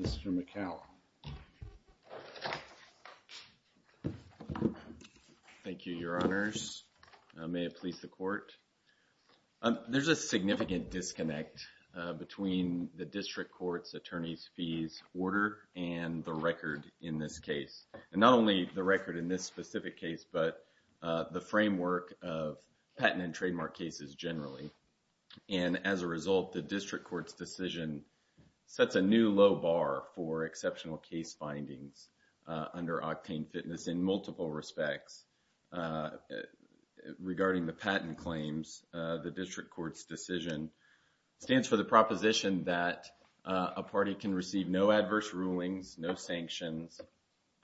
Mr. McHale. Thank you, Your Honors. May it please the Court. There's a significant disconnect between the District Court's attorney's fees order and the record in this case, and not only the record in this specific case, but the framework of patent and trademark cases generally, and as a result, the District Court's decision sets a new low bar for exceptional case findings under Octane Fitness in multiple respects. Regarding the patent claims, the District Court's decision stands for the proposition that a party can receive no adverse rulings, no sanctions,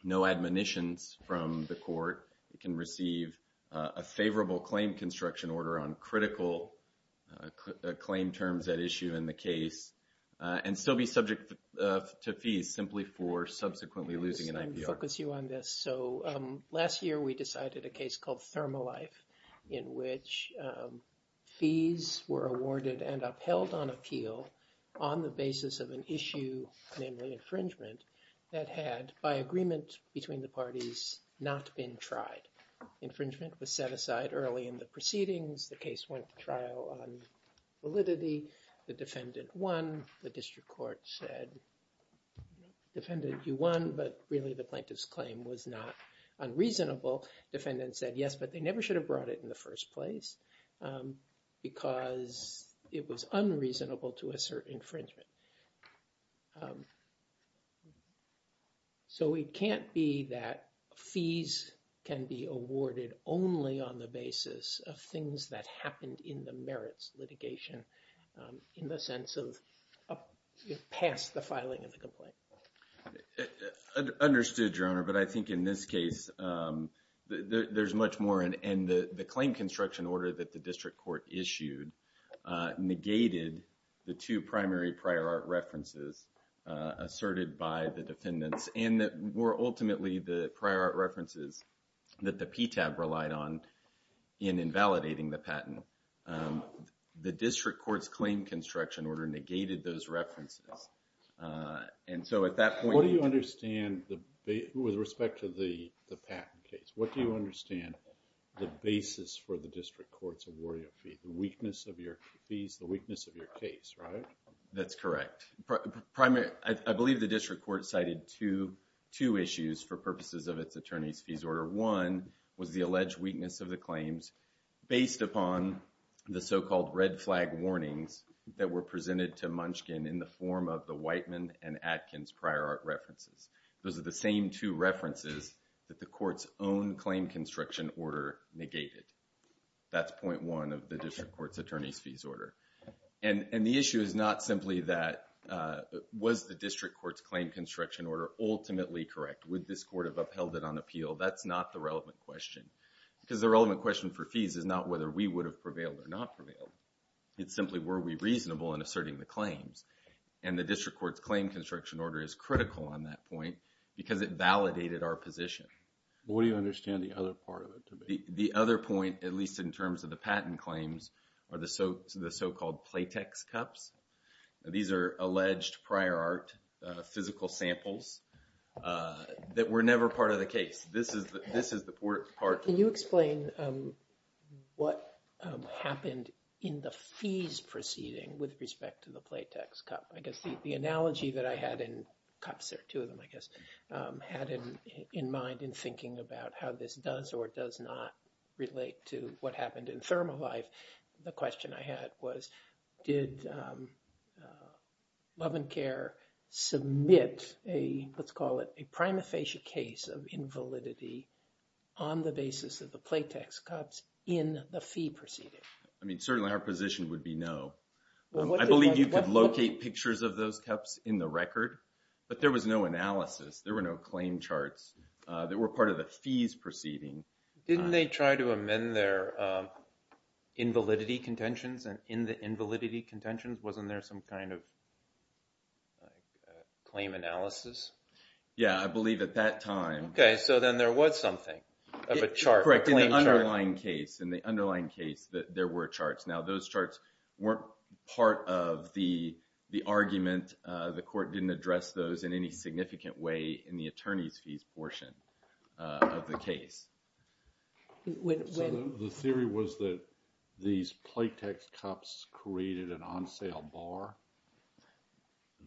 no admonitions from the court. It can receive a favorable claim construction order on critical claim terms at issue in the case, and still be subject to fees simply for subsequently losing an IPR. Let me focus you on this. So last year, we decided a case called Thermalife, in which fees were awarded and upheld on appeal on the basis of an issue, namely infringement, that had, by agreement between the parties, not been tried. Infringement was set aside early in the proceedings. The case went to trial on validity. The defendant won. The District Court said, defendant, you won, but really the plaintiff's claim was not unreasonable. Defendant said, yes, but they never should have brought it in the first place because it was unreasonable to assert infringement. So it can't be that fees can be awarded only on the basis of things that happened in the merits litigation, in the sense of past the filing of the complaint. Understood, Your Honor, but I think in this case, there's much more, and the claim construction order that the District Court issued negated the two primary prior art references asserted by the defendants, and that were ultimately the prior art references that the PTAB relied on in invalidating the patent. The District Court's claim construction order negated those references. And so at that point- What do you understand with respect to the patent case? What do you understand the basis for the District Court's awarding a fee, the weakness of your fees, the weakness of your case, right? That's correct. I believe the District Court cited two issues for purposes of its attorney's fees order. One was the alleged weakness of the claims based upon the so-called red flag warnings that were presented to Munchkin in the form of the Whiteman and Atkins prior art references. Those are the same two references that the court's own claim construction order negated. That's point one of the District Court's attorney's fees order. And the issue is not simply that was the District Court's claim construction order ultimately correct? Would this court have upheld it on appeal? That's not the relevant question. Because the relevant question for fees is not whether we would have prevailed or not prevailed. It's simply, were we reasonable in asserting the claims? And the District Court's claim construction order is critical on that point because it validated our position. What do you understand the other part of it to be? The other point, at least in terms of the patent claims, are the so-called platex cups. These are alleged prior art physical samples that were never part of the case. This is the part... Can you explain what happened in the fees proceeding with respect to the platex cup? I guess the analogy that I had in cups, or two of them I guess, had in mind in thinking about how this does or does not relate to what happened in thermal life. The question I had was, did Love and Care submit a, let's call it, a prima facie case of invalidity on the basis of the platex cups in the fee proceeding? I mean, certainly our position would be no. I believe you could locate pictures of those cups in the record, but there was no analysis. There were no claim charts that were part of the fees proceeding. Didn't they try to amend their invalidity contentions? And in the invalidity contentions, wasn't there some kind of claim analysis? Yeah, I believe at that time... Okay, so then there was something of a chart. Correct. In the underlying case, in the underlying case, there were charts. Now those charts weren't part of the argument. The court didn't address those in any significant way in the attorneys' fees portion of the case. So the theory was that these platex cups created an on-sale bar?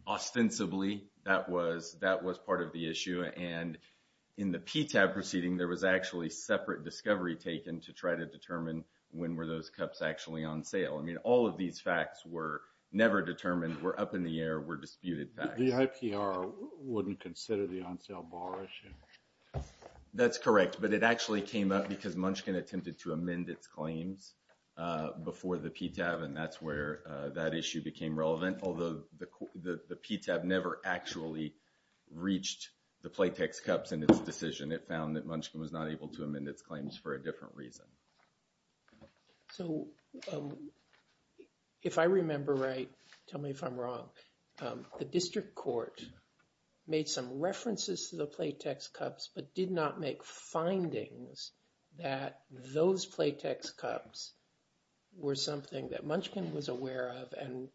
Ostensibly, that was part of the issue. And in the PTAB proceeding, there was actually separate discovery taken to try to determine when were those cups actually on sale. I mean, all of these facts were never determined, were up in the air, were disputed facts. The IPR wouldn't consider the on-sale bar issue? That's correct. But it actually came up because Munchkin attempted to amend its claims before the PTAB, and that's where that issue became relevant. Although the PTAB never actually reached the platex cups in its decision. It found that Munchkin was not able to amend its claims for a different reason. So if I remember right, tell me if I'm wrong, the district court made some references to the platex cups but did not make findings that those platex cups were something that Munchkin was aware of and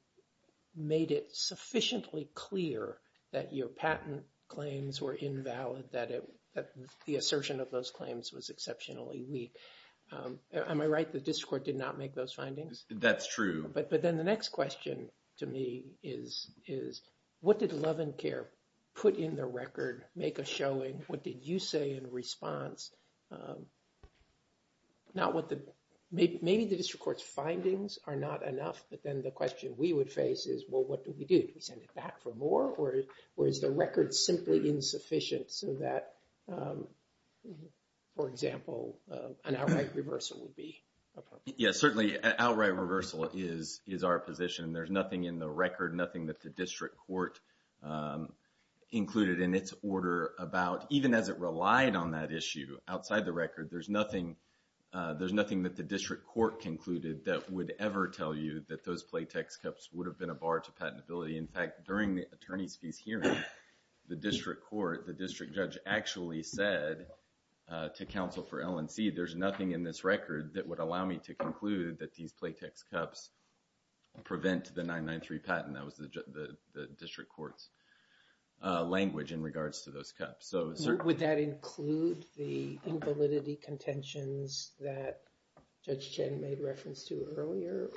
made it sufficiently clear that your patent claims were invalid, that the assertion of those claims was exceptionally weak. Am I right, the district court did not make those findings? That's true. But then the next question to me is, what did Love and Care put in the record, make a showing? What did you say in response? Maybe the district court's findings are not enough, but then the question we would face is, well, what do we do? Do we send it back for more or is the record simply insufficient so that, for example, an outright reversal would be appropriate? Yes, certainly an outright reversal is our position. There's nothing in the record, nothing that the district court included in its order about, even as it relied on that issue outside the record, there's nothing that the district court concluded that would ever tell you that those platex cups would have been a bar to patentability. In fact, during the attorney's piece hearing, the district court, the district judge actually said to counsel for L&C, there's nothing in this record that would allow me to conclude that these platex cups prevent the 993 patent. That was the district court's language in regards to those cups. Would that include the invalidity contentions that Judge Chen made reference to earlier?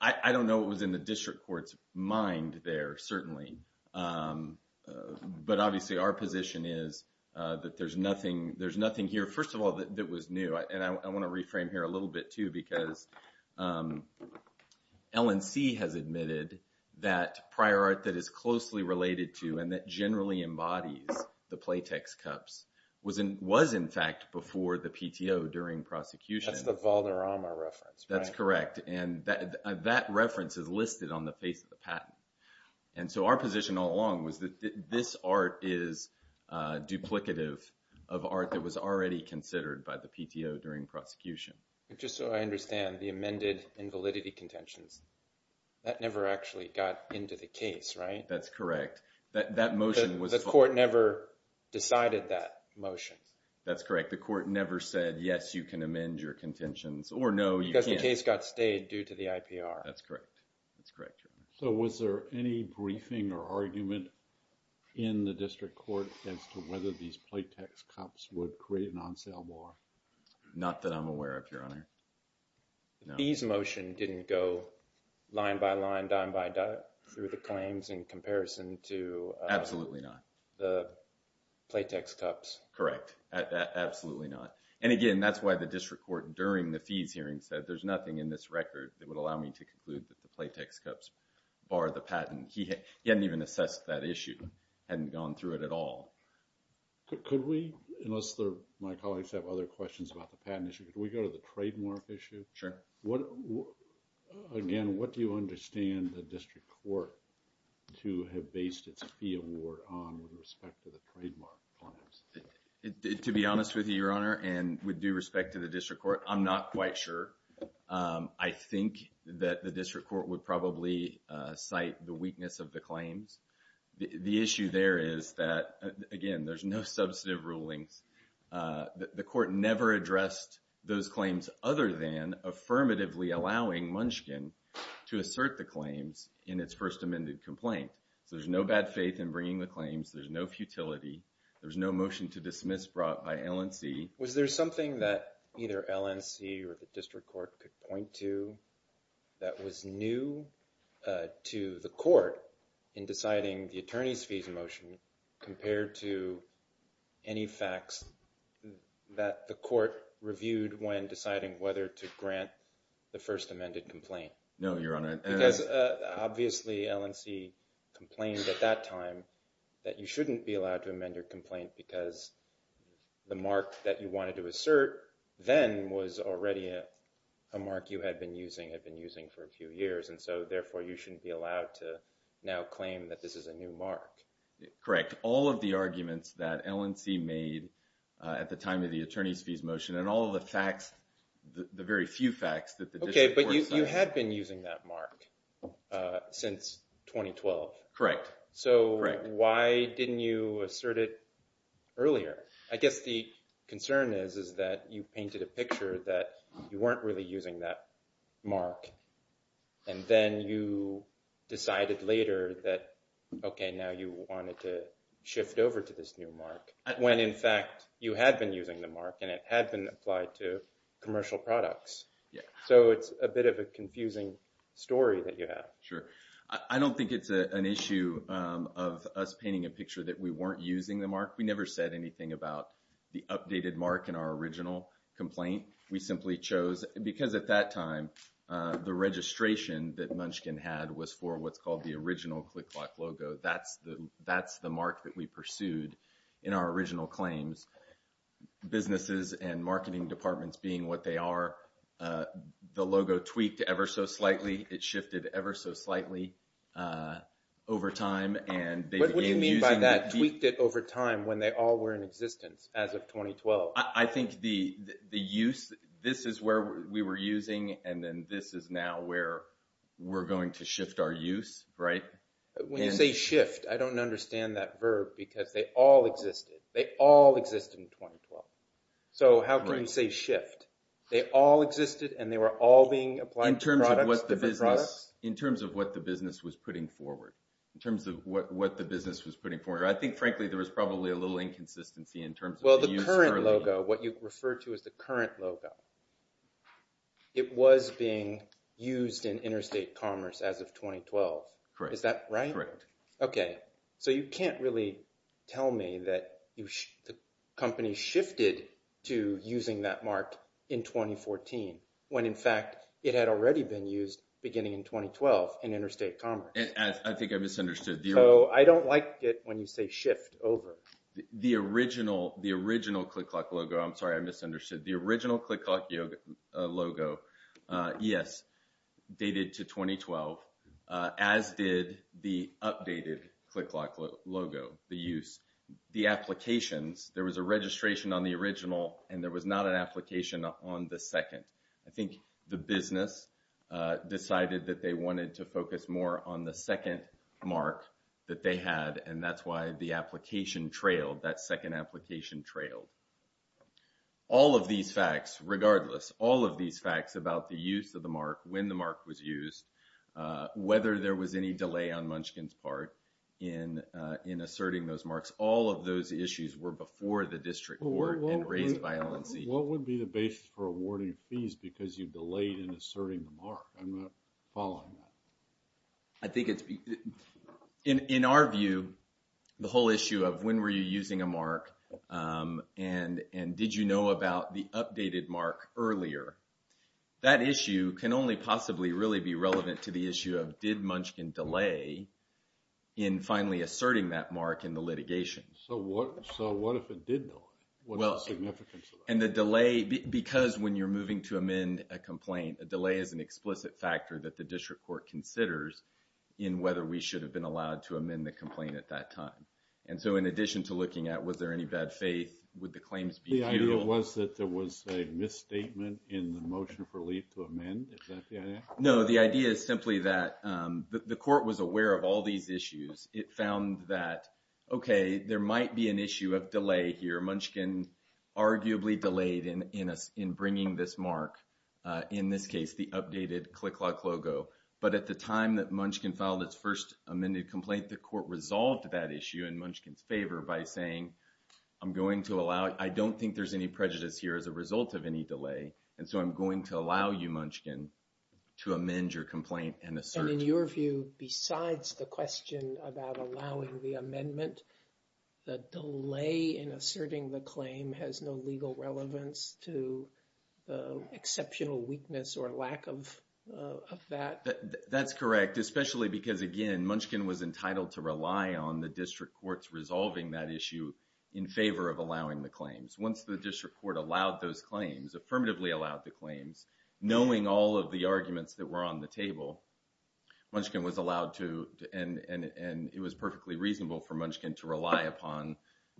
I don't know what was in the district court's mind there, certainly. But obviously, our position is that there's nothing here, first of all, that was new. I want to reframe here a little bit, too, because L&C has admitted that prior art that is closely related to and that generally embodies the platex cups was in fact before the PTO during prosecution. That's the Valderrama reference, right? That's correct, and that reference is listed on the face of the patent. And so our position all along was that this art is duplicative of art that was already considered by the PTO during prosecution. Just so I understand, the amended invalidity contentions, that never actually got into the case, right? That's correct. The court never decided that motion. That's correct. The court never said, yes, you can amend your contentions, or no, you can't. Because the case got stayed due to the IPR. That's correct. So was there any briefing or argument in the district court as to whether these platex cups would create an on-sale bar? Not that I'm aware of, Your Honor. The fees motion didn't go line by line, dime by dime through the claims in comparison to Absolutely not. the platex cups. Correct. Absolutely not. And again, that's why the district court during the fees hearing said, there's nothing in this record that would allow me to conclude that the platex cups bar the patent. He hadn't even assessed that issue, hadn't gone through it at all. Could we, unless my colleagues have other questions about the patent issue, could we go to the trademark issue? Sure. Again, what do you understand the district court to have based its fee award on with respect to the trademark claims? To be honest with you, Your Honor, and with due respect to the district court, I'm not quite sure. I think that the district court would probably cite the weakness of the claims. The issue there is that, again, there's no substantive rulings. The court never addressed those claims other than affirmatively allowing Munchkin to assert the claims in its first amended complaint. So there's no bad faith in bringing the claims. There's no futility. There's no motion to dismiss brought by LNC. Was there something that either LNC or the district court could point to that was new to the court in deciding the attorney's fees motion compared to any facts that the court reviewed when deciding whether to grant the first amended complaint? No, Your Honor. Because obviously LNC complained at that time that you shouldn't be allowed to amend your complaint because the mark that you wanted to assert then was already a mark you had been using, had been using for a few years, and so therefore you shouldn't be allowed to now claim that this is a new mark. Correct. All of the arguments that LNC made at the time of the attorney's fees motion and all of the facts, the very few facts that the district court cited... Okay, but you had been using that mark since 2012. Correct. So why didn't you assert it earlier? I guess the concern is that you painted a picture that you weren't really using that mark and then you decided later that, okay, now you wanted to shift over to this new mark when in fact you had been using the mark and it had been applied to commercial products. Yeah. So it's a bit of a confusing story that you have. Sure. I don't think it's an issue of us painting a picture that we weren't using the mark. We never said anything about the updated mark in our original complaint. We simply chose, because at that time the registration that Munchkin had was for what's called the original ClickClock logo. That's the mark that we pursued in our original claims. Businesses and marketing departments being what they are, the logo tweaked ever so slightly. It shifted ever so slightly over time. What do you mean by that, tweaked it over time when they all were in existence as of 2012? I think the use, this is where we were using and then this is now where we're going to shift our use, right? When you say shift, I don't understand that verb because they all existed. They all existed in 2012. So how can you say shift? They all existed and they were all being applied to different products? In terms of what the business was putting forward. In terms of what the business was putting forward. I think frankly there was probably a little inconsistency in terms of the use earlier. Well the current logo, what you refer to as the current logo, it was being used in interstate commerce as of 2012. Correct. Is that right? Correct. Okay, so you can't really tell me that the company shifted to using that mark in 2014 when in fact it had already been used beginning in 2012 in interstate commerce. I think I misunderstood. So I don't like it when you say shift over. The original ClickClock logo, I'm sorry I misunderstood. The original ClickClock logo, yes, dated to 2012 as did the updated ClickClock logo, the use. The applications, there was a registration on the original and there was not an application on the second. I think the business decided that they wanted to focus more on the second mark that they had and that's why the application trailed, that second application trailed. All of these facts, regardless, all of these facts about the use of the mark, when the mark was used, whether there was any delay on Munchkin's part in asserting those marks, all of those issues were before the district court and raised by LNC. What would be the basis for awarding fees because you delayed in asserting the mark? I'm not following that. I think it's, in our view, the whole issue of when were you using a mark and did you know about the updated mark earlier? That issue can only possibly really be relevant to the issue of did Munchkin delay in finally asserting that mark in the litigation. So what if it did delay? What is the significance of that? And the delay, because when you're moving to amend a complaint, a delay is an explicit factor that the district court considers in whether we should have been allowed to amend the complaint at that time. And so in addition to looking at was there any bad faith, would the claims be due? The idea was that there was a misstatement in the motion for leave to amend. Is that the idea? No, the idea is simply that the court was aware of all these issues. It found that, okay, there might be an issue of delay here. Munchkin arguably delayed in bringing this mark, in this case, the updated ClickLock logo. But at the time that Munchkin filed its first amended complaint, the court resolved that issue in Munchkin's favor by saying, I'm going to allow, I don't think there's any prejudice here as a result of any delay. And so I'm going to allow you, Munchkin, to amend your complaint and assert. And in your view, besides the question about allowing the amendment, the delay in asserting the claim has no legal relevance to the exceptional weakness or lack of that? That's correct, especially because, again, Munchkin was entitled to rely on the district courts resolving that issue in favor of allowing the claims. Once the district court allowed those claims, affirmatively allowed the claims, knowing all of the arguments that were on the table, Munchkin was allowed to, and it was perfectly reasonable for Munchkin to rely upon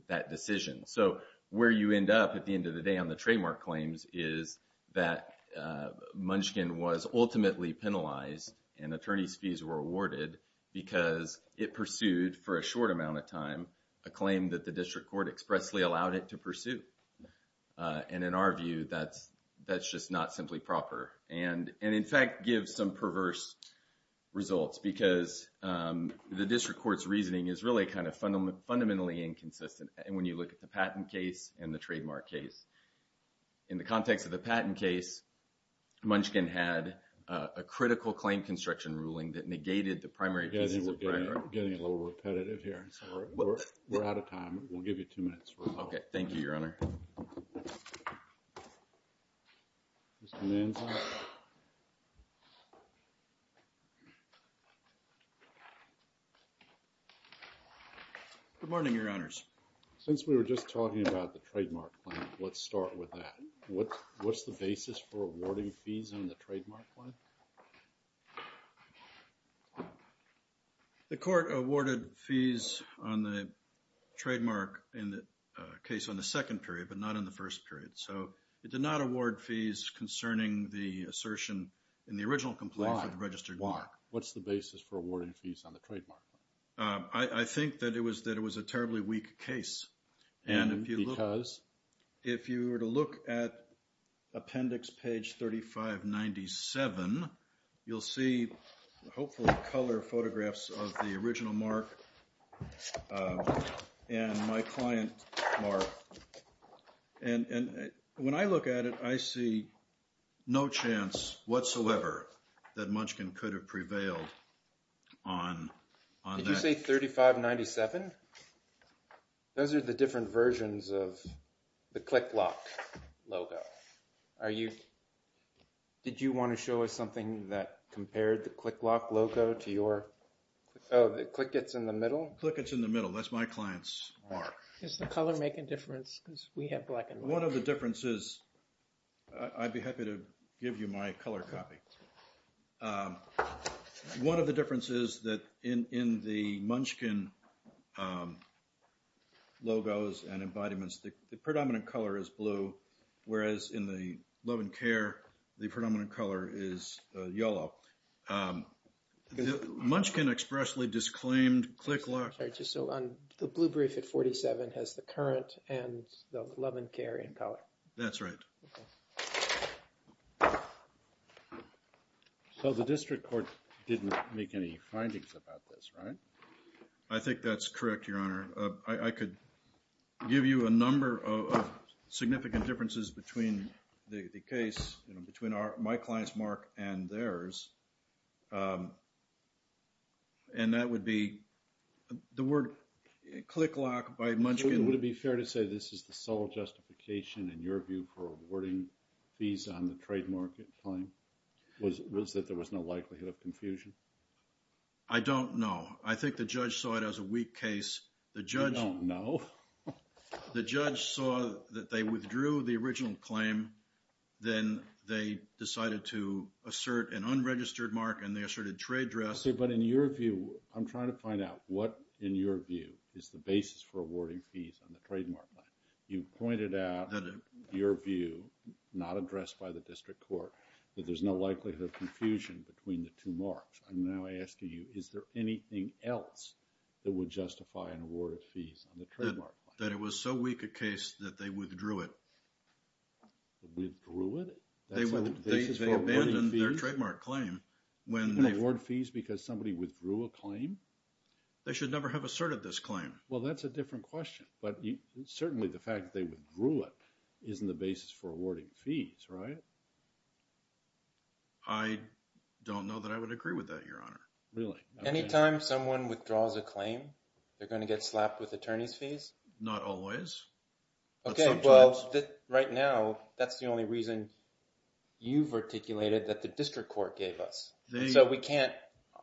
that decision. So where you end up at the end of the day on the trademark claims is that Munchkin was ultimately penalized and attorney's fees were awarded because it pursued for a short amount of time a claim that the district court expressly allowed it to pursue. And in our view, that's just not simply proper. And in fact, gives some perverse results because the district court's reasoning is really kind of fundamentally inconsistent. And when you look at the patent case and the trademark case, in the context of the patent case, Munchkin had a critical claim construction ruling that negated the primary... We're getting a little repetitive here. We're out of time. We'll give you two minutes. Okay, thank you, Your Honor. Mr. Manza. Good morning, Your Honors. Since we were just talking about the trademark claim, let's start with that. What's the basis for awarding fees on the trademark claim? The court awarded fees on the trademark in the case on the second trademark. In the first period, but not in the first period. So it did not award fees concerning the assertion in the original complaint for the registered mark. Why? What's the basis for awarding fees on the trademark? I think that it was a terribly weak case. And if you look... Because? If you were to look at appendix page 3597, you'll see hopefully color photographs of the original mark and my client mark. And when I look at it, I see no chance whatsoever that Munchkin could have prevailed on that. Did you say 3597? Those are the different versions of the Click Lock logo. Are you... Did you want to show us something that compared the Click Lock logo to your... Oh, the click gets in the middle? Click gets in the middle. That's my client's mark. Does the color make a difference? Because we have black and white. One of the differences... I'd be happy to give you my color copy. One of the differences is that in the Munchkin logos and embodiments, the predominant color is blue, whereas in the Loan & Care, the predominant color is yellow. Munchkin expressly disclaimed Click Lock... So the blue brief at 47 has the current and the Loan & Care in color. That's right. So the district court didn't make any findings about this, right? I think that's correct, Your Honor. I could give you a number of significant differences between the case, between my client's mark and theirs. And that would be... The word Click Lock by Munchkin... Would it be fair to say this is the sole justification in your view for awarding fees on the trade market claim? Was that there was no likelihood of confusion? I don't know. I think the judge saw it as a weak case. The judge... You don't know? The judge saw that they withdrew the original claim. Then they decided to assert an unregistered mark and they asserted trade dress. But in your view, I'm trying to find out what, in your view, is the basis for awarding fees on the trademark claim. You pointed out that in your view, not addressed by the district court, that there's no likelihood of confusion between the two marks. I'm now asking you, is there anything else that would justify an award of fees on the trademark claim? That it was so weak a case that they withdrew it. Withdrew it? They abandoned their trademark claim. They didn't award fees because somebody withdrew a claim? They should never have asserted this claim. Well, that's a different question. But certainly the fact that they withdrew it isn't the basis for awarding fees, right? I don't know that I would agree with that, Your Honor. Really? Any time someone withdraws a claim, they're going to get slapped with attorney's fees? Not always. Okay, well, right now, that's the only reason you've articulated that the district court gave us. So we can't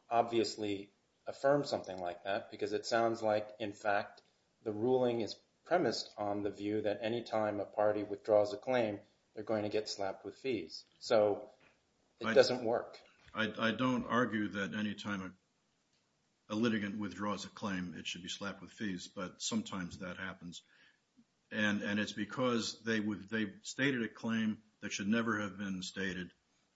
obviously affirm something like that because it sounds like, in fact, the ruling is premised on the view that any time a party withdraws a claim, they're going to get slapped with fees. So it doesn't work. I don't argue that any time a litigant withdraws a claim, it should be slapped with fees. But sometimes that happens. And it's because they stated a claim that should never have been stated.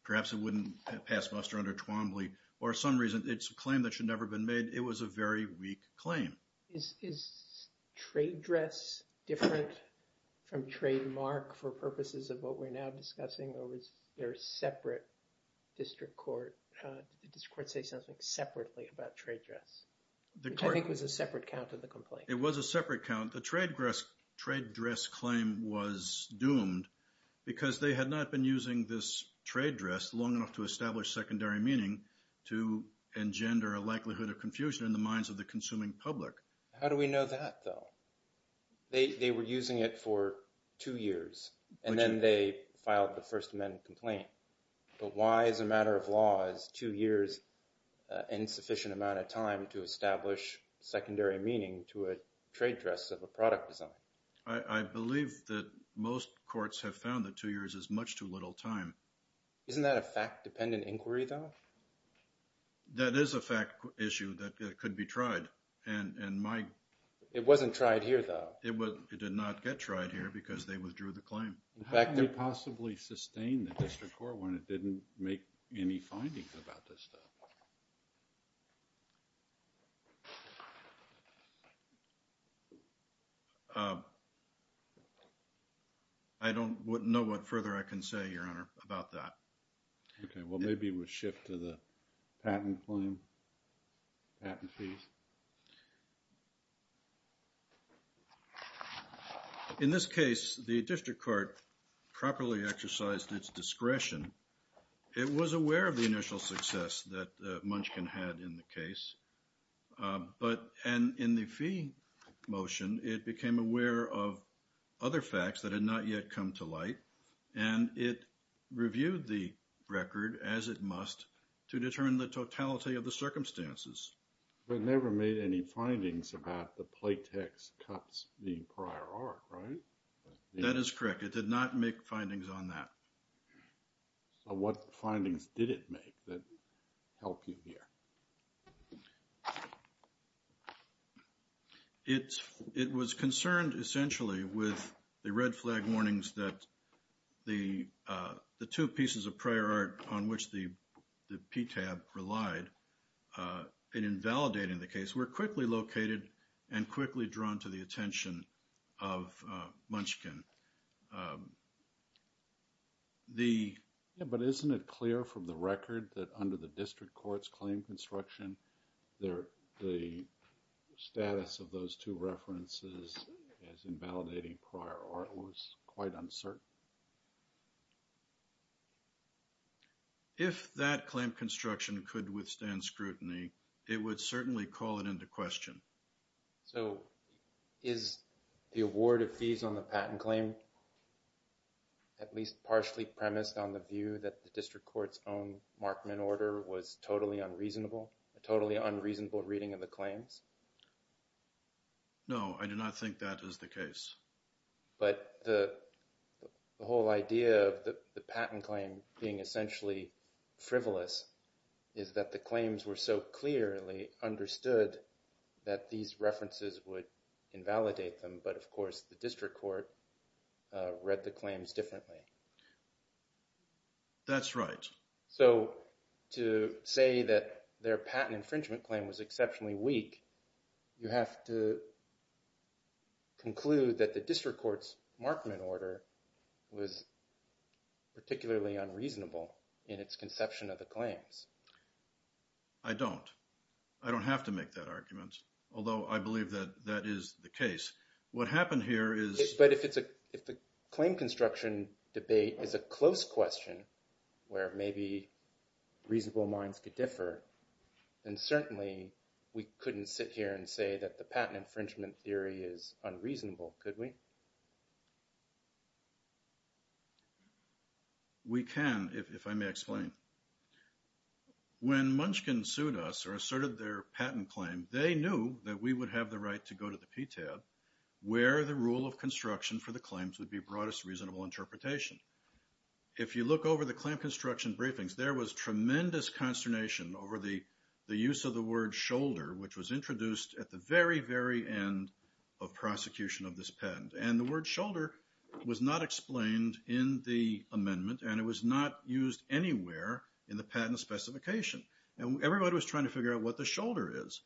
Perhaps it wouldn't pass muster under Twombly or some reason it's a claim that should never been made. It was a very weak claim. Is trade dress different from trademark for purposes of what we're now discussing or is there a separate district court? Did the district court say something separately about trade dress? Which I think was a separate count of the complaint. It was a separate count. The trade dress claim was doomed because they had not been using this trade dress long enough to establish secondary meaning to engender a likelihood of confusion in the minds of the consuming public. How do we know that, though? They were using it for two years and then they filed the First Amendment complaint. But why, as a matter of law, is two years an insufficient amount of time to establish secondary meaning to a trade dress of a product design? I believe that most courts have found that two years is much too little time. Isn't that a fact-dependent inquiry, though? That is a fact issue that could be tried. It wasn't tried here, though. It did not get tried here because they withdrew the claim. How do you possibly sustain the district court when it didn't make any findings about this stuff? Uh... I don't know what further I can say, Your Honor, about that. Okay, well, maybe we'll shift to the patent claim, patent fees. In this case, the district court properly exercised its discretion. It was aware of the initial success that Munchkin had in the case. And in the fee motion, it became aware of other facts that had not yet come to light, and it reviewed the record as it must to determine the totality of the circumstances. But it never made any findings about the platex cuts in the prior arc, right? That is correct. It did not make findings on that. So what findings did it make that help you here? It was concerned, essentially, with the red flag warnings that the two pieces of prior arc on which the PTAB relied in invalidating the case were quickly located and quickly drawn to the attention of Munchkin. But isn't it clear from the record that under the district court's claim construction, the status of those two references as invalidating prior arc was quite uncertain? If that claim construction could withstand scrutiny, it would certainly call it into question. So is the award of fees on the patent claim at least partially premised on the view that the district court's own Markman order was totally unreasonable, a totally unreasonable reading of the claims? No, I do not think that is the case. But the whole idea of the patent claim being essentially frivolous is that the claims were so clearly understood that these references would invalidate them, but of course the district court read the claims differently. That's right. So to say that their patent infringement claim was exceptionally weak, you have to conclude that the district court's Markman order was particularly unreasonable in its conception of the claims. I don't. I don't have to make that argument. Although I believe that that is the case. What happened here is... But if the claim construction debate is a close question where maybe reasonable minds could differ, then certainly we couldn't sit here and say that the patent infringement theory is unreasonable, could we? We can, if I may explain. When Munchkin sued us or asserted their patent claim, they knew that we would have the right to go to the PTAB where the rule of construction for the claims would be broadest reasonable interpretation. If you look over the claim construction briefings, there was tremendous consternation over the use of the word shoulder which was introduced at the very, very end of prosecution of this patent. And the word shoulder was not explained in the amendment and it was not used anywhere in the patent specification. Everybody was trying to figure out what the shoulder is.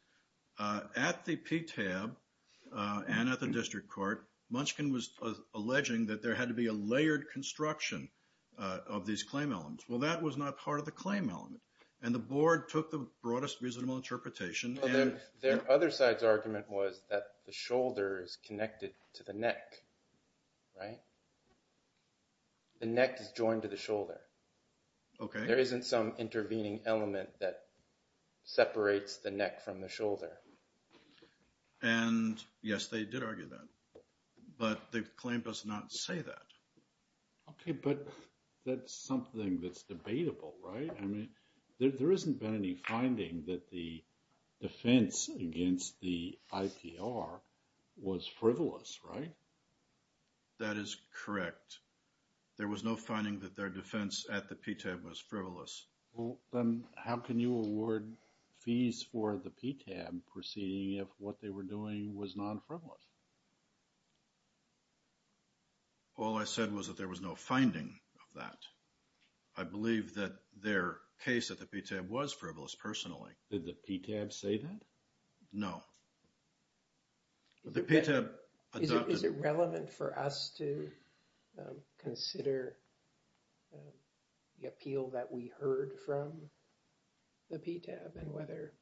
At the PTAB and at the district court, Munchkin was alleging that there had to be a layered construction of these claim elements. Well, that was not part of the claim element and the board took the broadest reasonable interpretation and their other side's argument was that the shoulder is connected to the neck, right? The neck is joined to the shoulder. There isn't some intervening element that separates the neck from the shoulder. And yes, they did argue that. But the claim does not say that. Okay, but that's something that's debatable, right? I mean, there isn't been any finding that the defense against the IPR was frivolous, right? That is correct. There was no finding that their defense at the PTAB was frivolous. Well, then how can you award fees for the PTAB proceeding if what they were doing was non-frivolous? All I said was that there was no finding of that. I believe that their case at the PTAB was frivolous personally. Did the PTAB say that? No. Is it relevant for us to consider the appeal that we heard from the PTAB and whether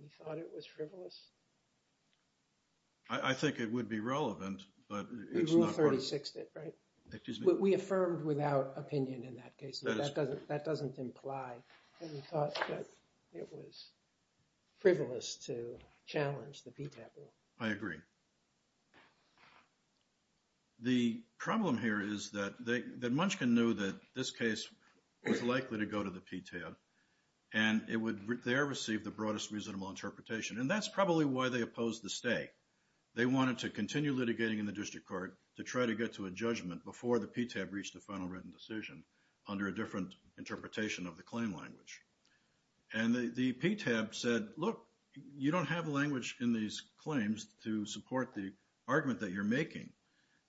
we thought it was frivolous? I think it would be relevant but it's not relevant. We affirmed without opinion in that case. That doesn't imply that we thought it was frivolous to challenge the PTAB. I agree. The problem here is that Munchkin knew that this case was likely to go to the PTAB and it would there receive the broadest reasonable interpretation. That's probably why they opposed the stay. They wanted to continue litigating in the district court to try to get to a judgment before the PTAB reached a final written decision under a different interpretation of the claim language. The PTAB said, you don't have language in these claims to support the argument that you're making.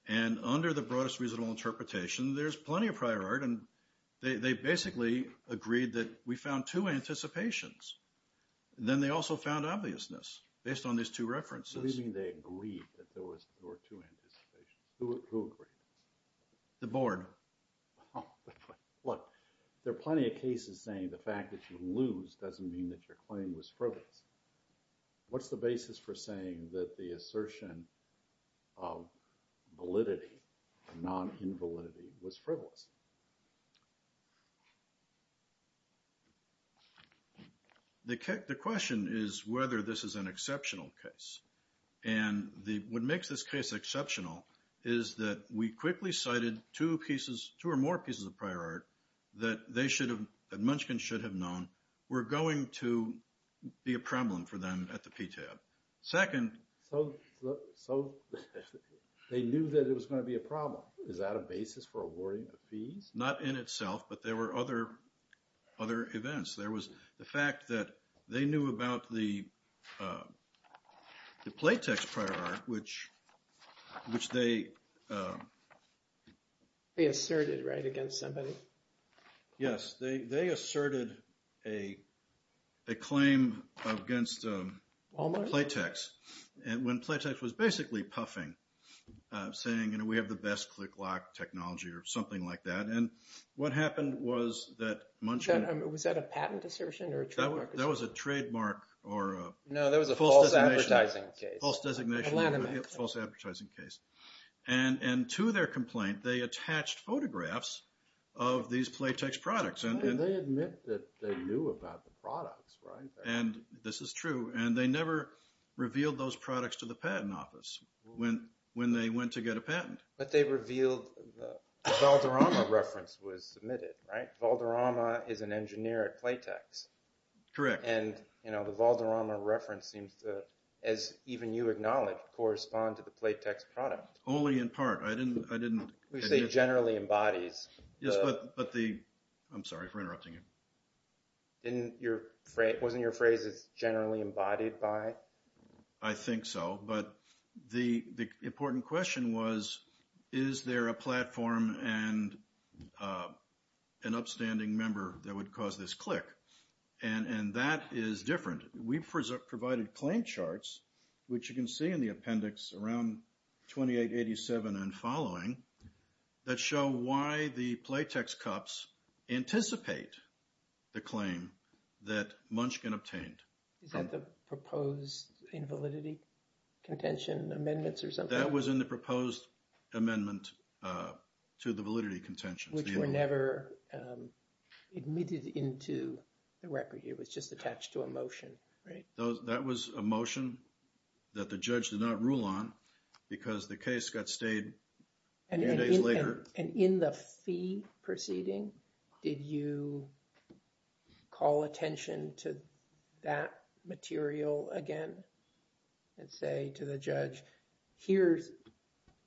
Under the broadest reasonable interpretation, there's plenty of prior art. They basically agreed that we found two references. Who agreed? The board. There are plenty of cases saying the fact that you lose doesn't mean that your claim was frivolous. What's the basis for saying that the assertion of validity or non-invalidity was frivolous? The question is whether this is an exceptional case. What makes this case exceptional is that we quickly cited two pieces two or more pieces of prior art that Munchkin should have known were going to be a problem for them at the PTAB. Second, they knew that it was going to be a problem. Is that a basis for awarding a fee? Not in itself, but there were other events. There was the fact that they knew about the Playtex prior art which they They asserted, right, against somebody? Yes, they asserted a claim against Playtex. When Playtex was basically saying we have the best click lock technology or something like that. Was that a patent assertion? That was a trademark or false advertising case. To their complaint, they attached photographs of these Playtex products. They admit that they knew about the products, right? This is true. They never revealed those products to the patent office when they went to get a patent. The Valderrama reference was submitted, right? Valderrama is an engineer at Playtex. Correct. The Valderrama reference seems to, as even you acknowledged, correspond to the Playtex product. Only in part. Which they generally embodies. I'm sorry for interrupting you. Wasn't your phrase generally embodied by? I think so. The important question was is there a platform and an upstanding member that would cause this click? That is different. We provided claim charts which you can see in the appendix around 2887 and following that show why the claim that Munchkin obtained. Is that the proposed invalidity contention amendments or something? That was in the proposed amendment to the validity contention. Which were never admitted into the record. It was just attached to a motion. That was a motion that the judge did not rule on because the case got stayed a few days later. And in the fee proceeding, did you call attention to that material again? And say to the judge here's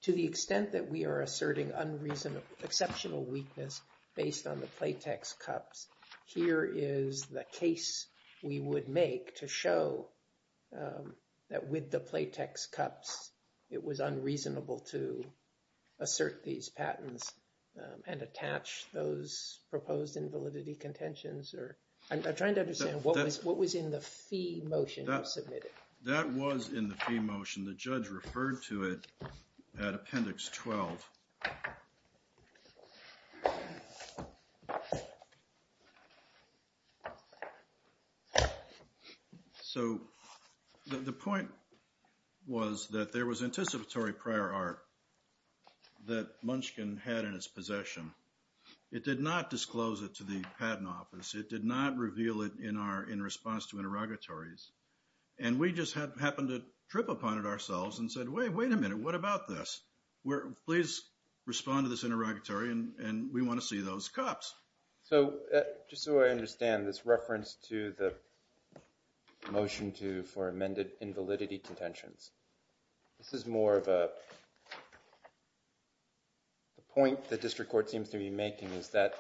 to the extent that we are asserting exceptional weakness based on the Playtex cups. Here is the case we would make to show that with the Playtex cups it was unreasonable to attach those proposed invalidity contentions I'm trying to understand what was in the fee motion you submitted. That was in the fee motion the judge referred to it at appendix 12. So the point was that there was anticipatory prior art that Munchkin had in possession. It did not disclose it to the patent office. It did not reveal it in response to interrogatories. And we just happened to trip upon it ourselves and said wait a minute what about this? Please respond to this interrogatory and we want to see those cups. So just so I understand this reference to the motion for amended invalidity contentions. This is more of a the point the district court seems to be making is that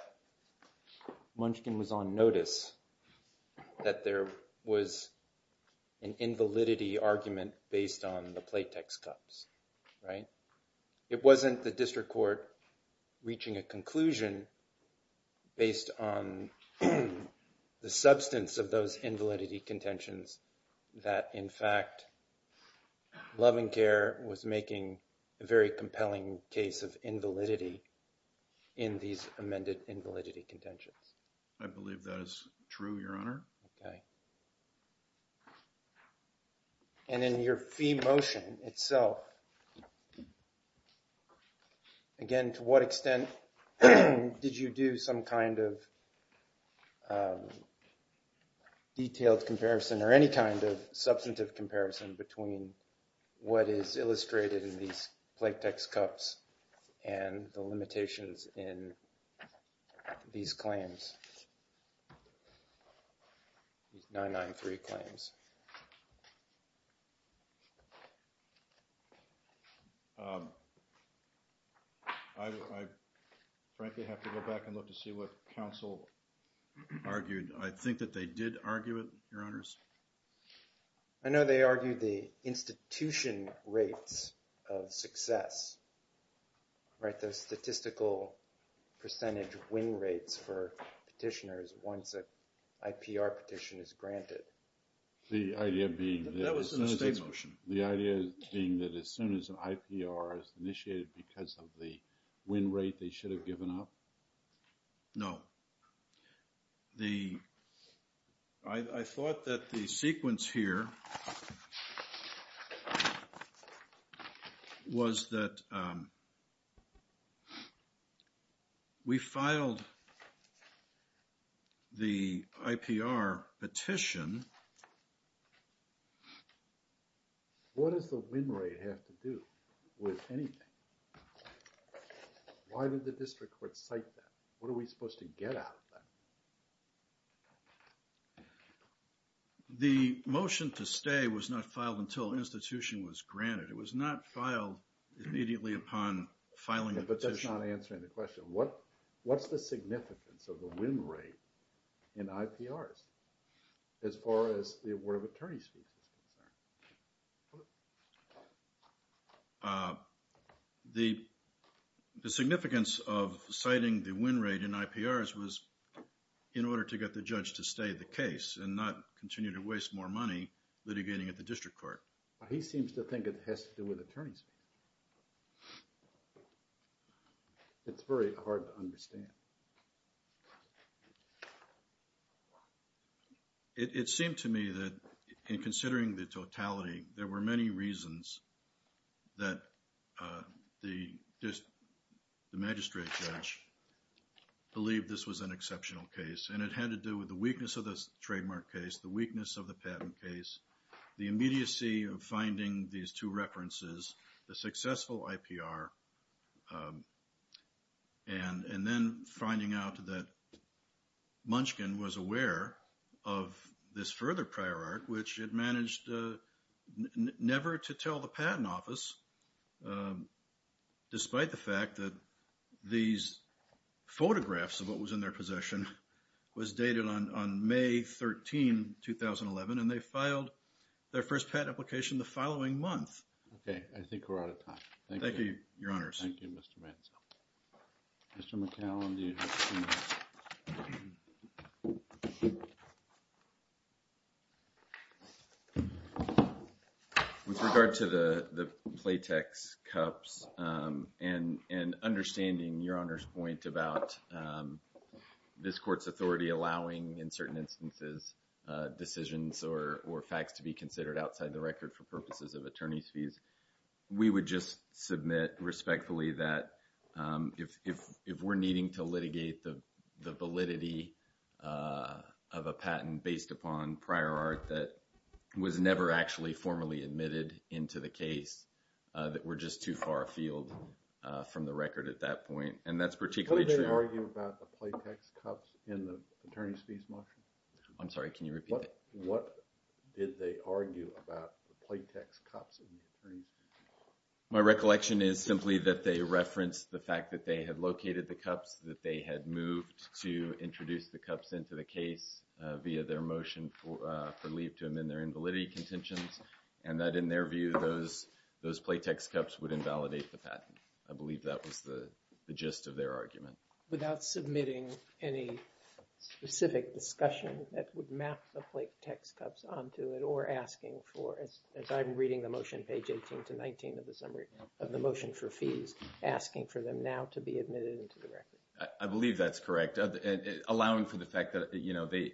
Munchkin was on notice that there was an invalidity argument based on the Playtex cups. It wasn't the district court reaching a conclusion based on the substance of those invalidity contentions that in fact Love and Care was making a very compelling case of invalidity in these amended invalidity contentions. I believe that is true your honor. And in your fee motion itself again to what extent did you do some kind of detailed comparison or any kind of substantive comparison between what is illustrated in these Playtex cups and the limitations in these claims these 993 claims I frankly have to go back and look to see what counsel argued. I think that they did argue it your honors. I know they argued the institution rates of success right those statistical percentage win rates for petitioners once an IPR petition is granted the idea being that the idea being that as soon as an IPR is initiated because of the win rate they should have given up? No The I thought that the sequence here was that we filed the IPR petition What does the win rate have to do with anything? Why did the district court cite that? What are we supposed to get out of that? The motion to stay was not filed until the institution was granted. It was not filed immediately upon filing the petition. But that's not answering the question. What what's the significance of the win rate in IPRs as far as the award of attorney's fees is concerned? The significance of citing the win rate in IPRs was in order to get the judge to stay the case and not continue to waste more money litigating at the district court He seems to think it has to do with attorney's fees It's very hard to understand It There were many reasons that the magistrate judge believed this was an exceptional case and it had to do with the weakness of the trademark case, the weakness of the patent case, the immediacy of finding these two references, the successful IPR and then finding out that Munchkin was aware of this further prior art which it managed never to tell the patent office despite the fact that these photographs of what was in their possession was dated on May 13 2011 and they filed their first patent application the following month Thank you Mr. McCallum With regard to the and understanding your Honor's point about this court's authority allowing in certain instances decisions or facts to be considered outside the record for purposes of attorney's fees we would just submit respectfully that if we're needing to litigate the validity of a patent based upon prior art that was never actually formally admitted into the case that we're just too far afield from the record at that point and that's particularly true I'm sorry can you repeat that What did they argue about the platex cups in the attorney's fees My recollection is simply that they referenced the fact that they had located the cups that they had moved to introduce the cups into the case via their motion for leave to amend their invalidity contentions and that in their view those platex cups would invalidate the patent I believe that was the gist of their argument Without submitting any specific discussion that would map the platex cups onto it or asking for as I'm reading the motion page 18 to 19 of the motion for fees asking for them now to be admitted into the record I believe that's correct allowing for the fact that you know they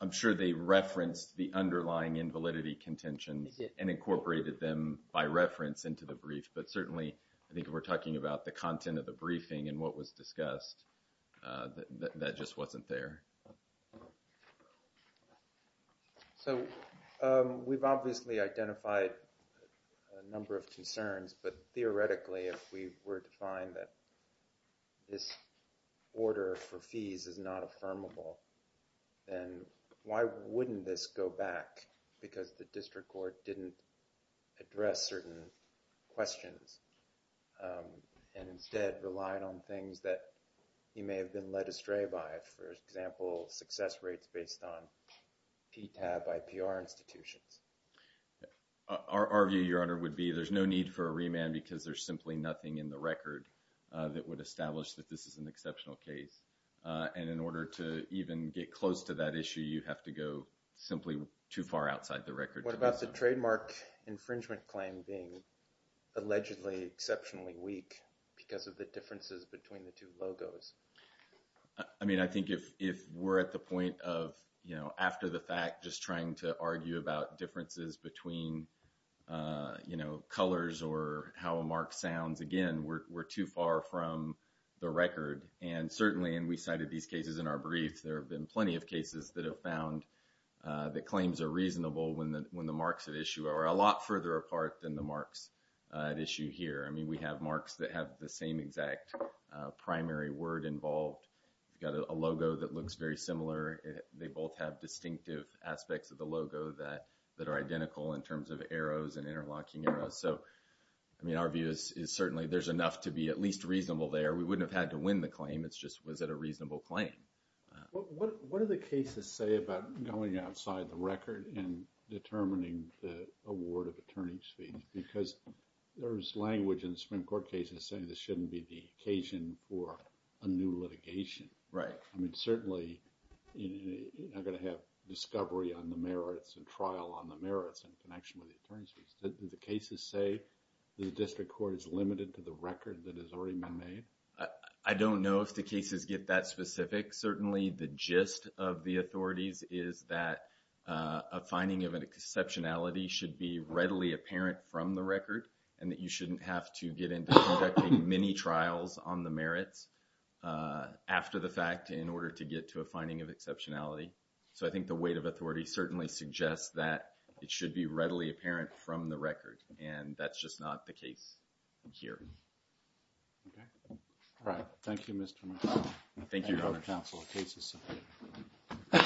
I'm sure they referenced the underlying invalidity contentions and incorporated them by reference into the brief but certainly I think we're talking about the content of the briefing and what was discussed that just wasn't there So we've obviously identified a number of concerns but theoretically if we were to find that this order for fees is not affirmable then why wouldn't this go back because the district court didn't address certain questions and instead relied on things that he may have been led astray by for example success rates based on PTAB by PR institutions Our view your honor would be there's no need for a remand because there's simply nothing in the record that would establish that this is an exceptional case and in order to even get close to that issue you have to go simply too far outside the record. What about the trademark infringement claim being allegedly exceptionally weak because of the differences between the two logos I mean I think if we're at the point of after the fact just trying to argue about differences between colors or how a mark sounds again we're too far from the record and certainly and we cited these cases in our briefs there have been plenty of cases that have found that claims are reasonable when the marks at issue are a lot further apart than the marks at issue here. I mean we have marks that have the same exact primary word involved. We've got a logo that looks very similar. They both have distinctive aspects of the logo that are identical in terms of arrows and interlocking arrows. So I mean our view is certainly there's enough to be at least reasonable there. We wouldn't have had to win the claim it's just was it a reasonable claim. What do the cases say about going outside the record and determining the award of attorneys fees because there's language in the Supreme Court cases saying this shouldn't be the occasion for a new litigation. Right. I mean certainly you're not going to have discovery on the merits and trial on the merits in connection with the attorneys fees. Do the cases say the district court is limited to the record that has already been made? I don't know if the cases get that specific. Certainly the gist of the authorities is that a finding of an exceptionality should be readily apparent from the record and that you shouldn't have to get into conducting many trials on the merits after the fact in order to get to a finding of exceptionality. So I think the weight of authority certainly suggests that it should be readily apparent from the record and that's just not the case here. All right. Thank you Mr. McDonough. Thank you.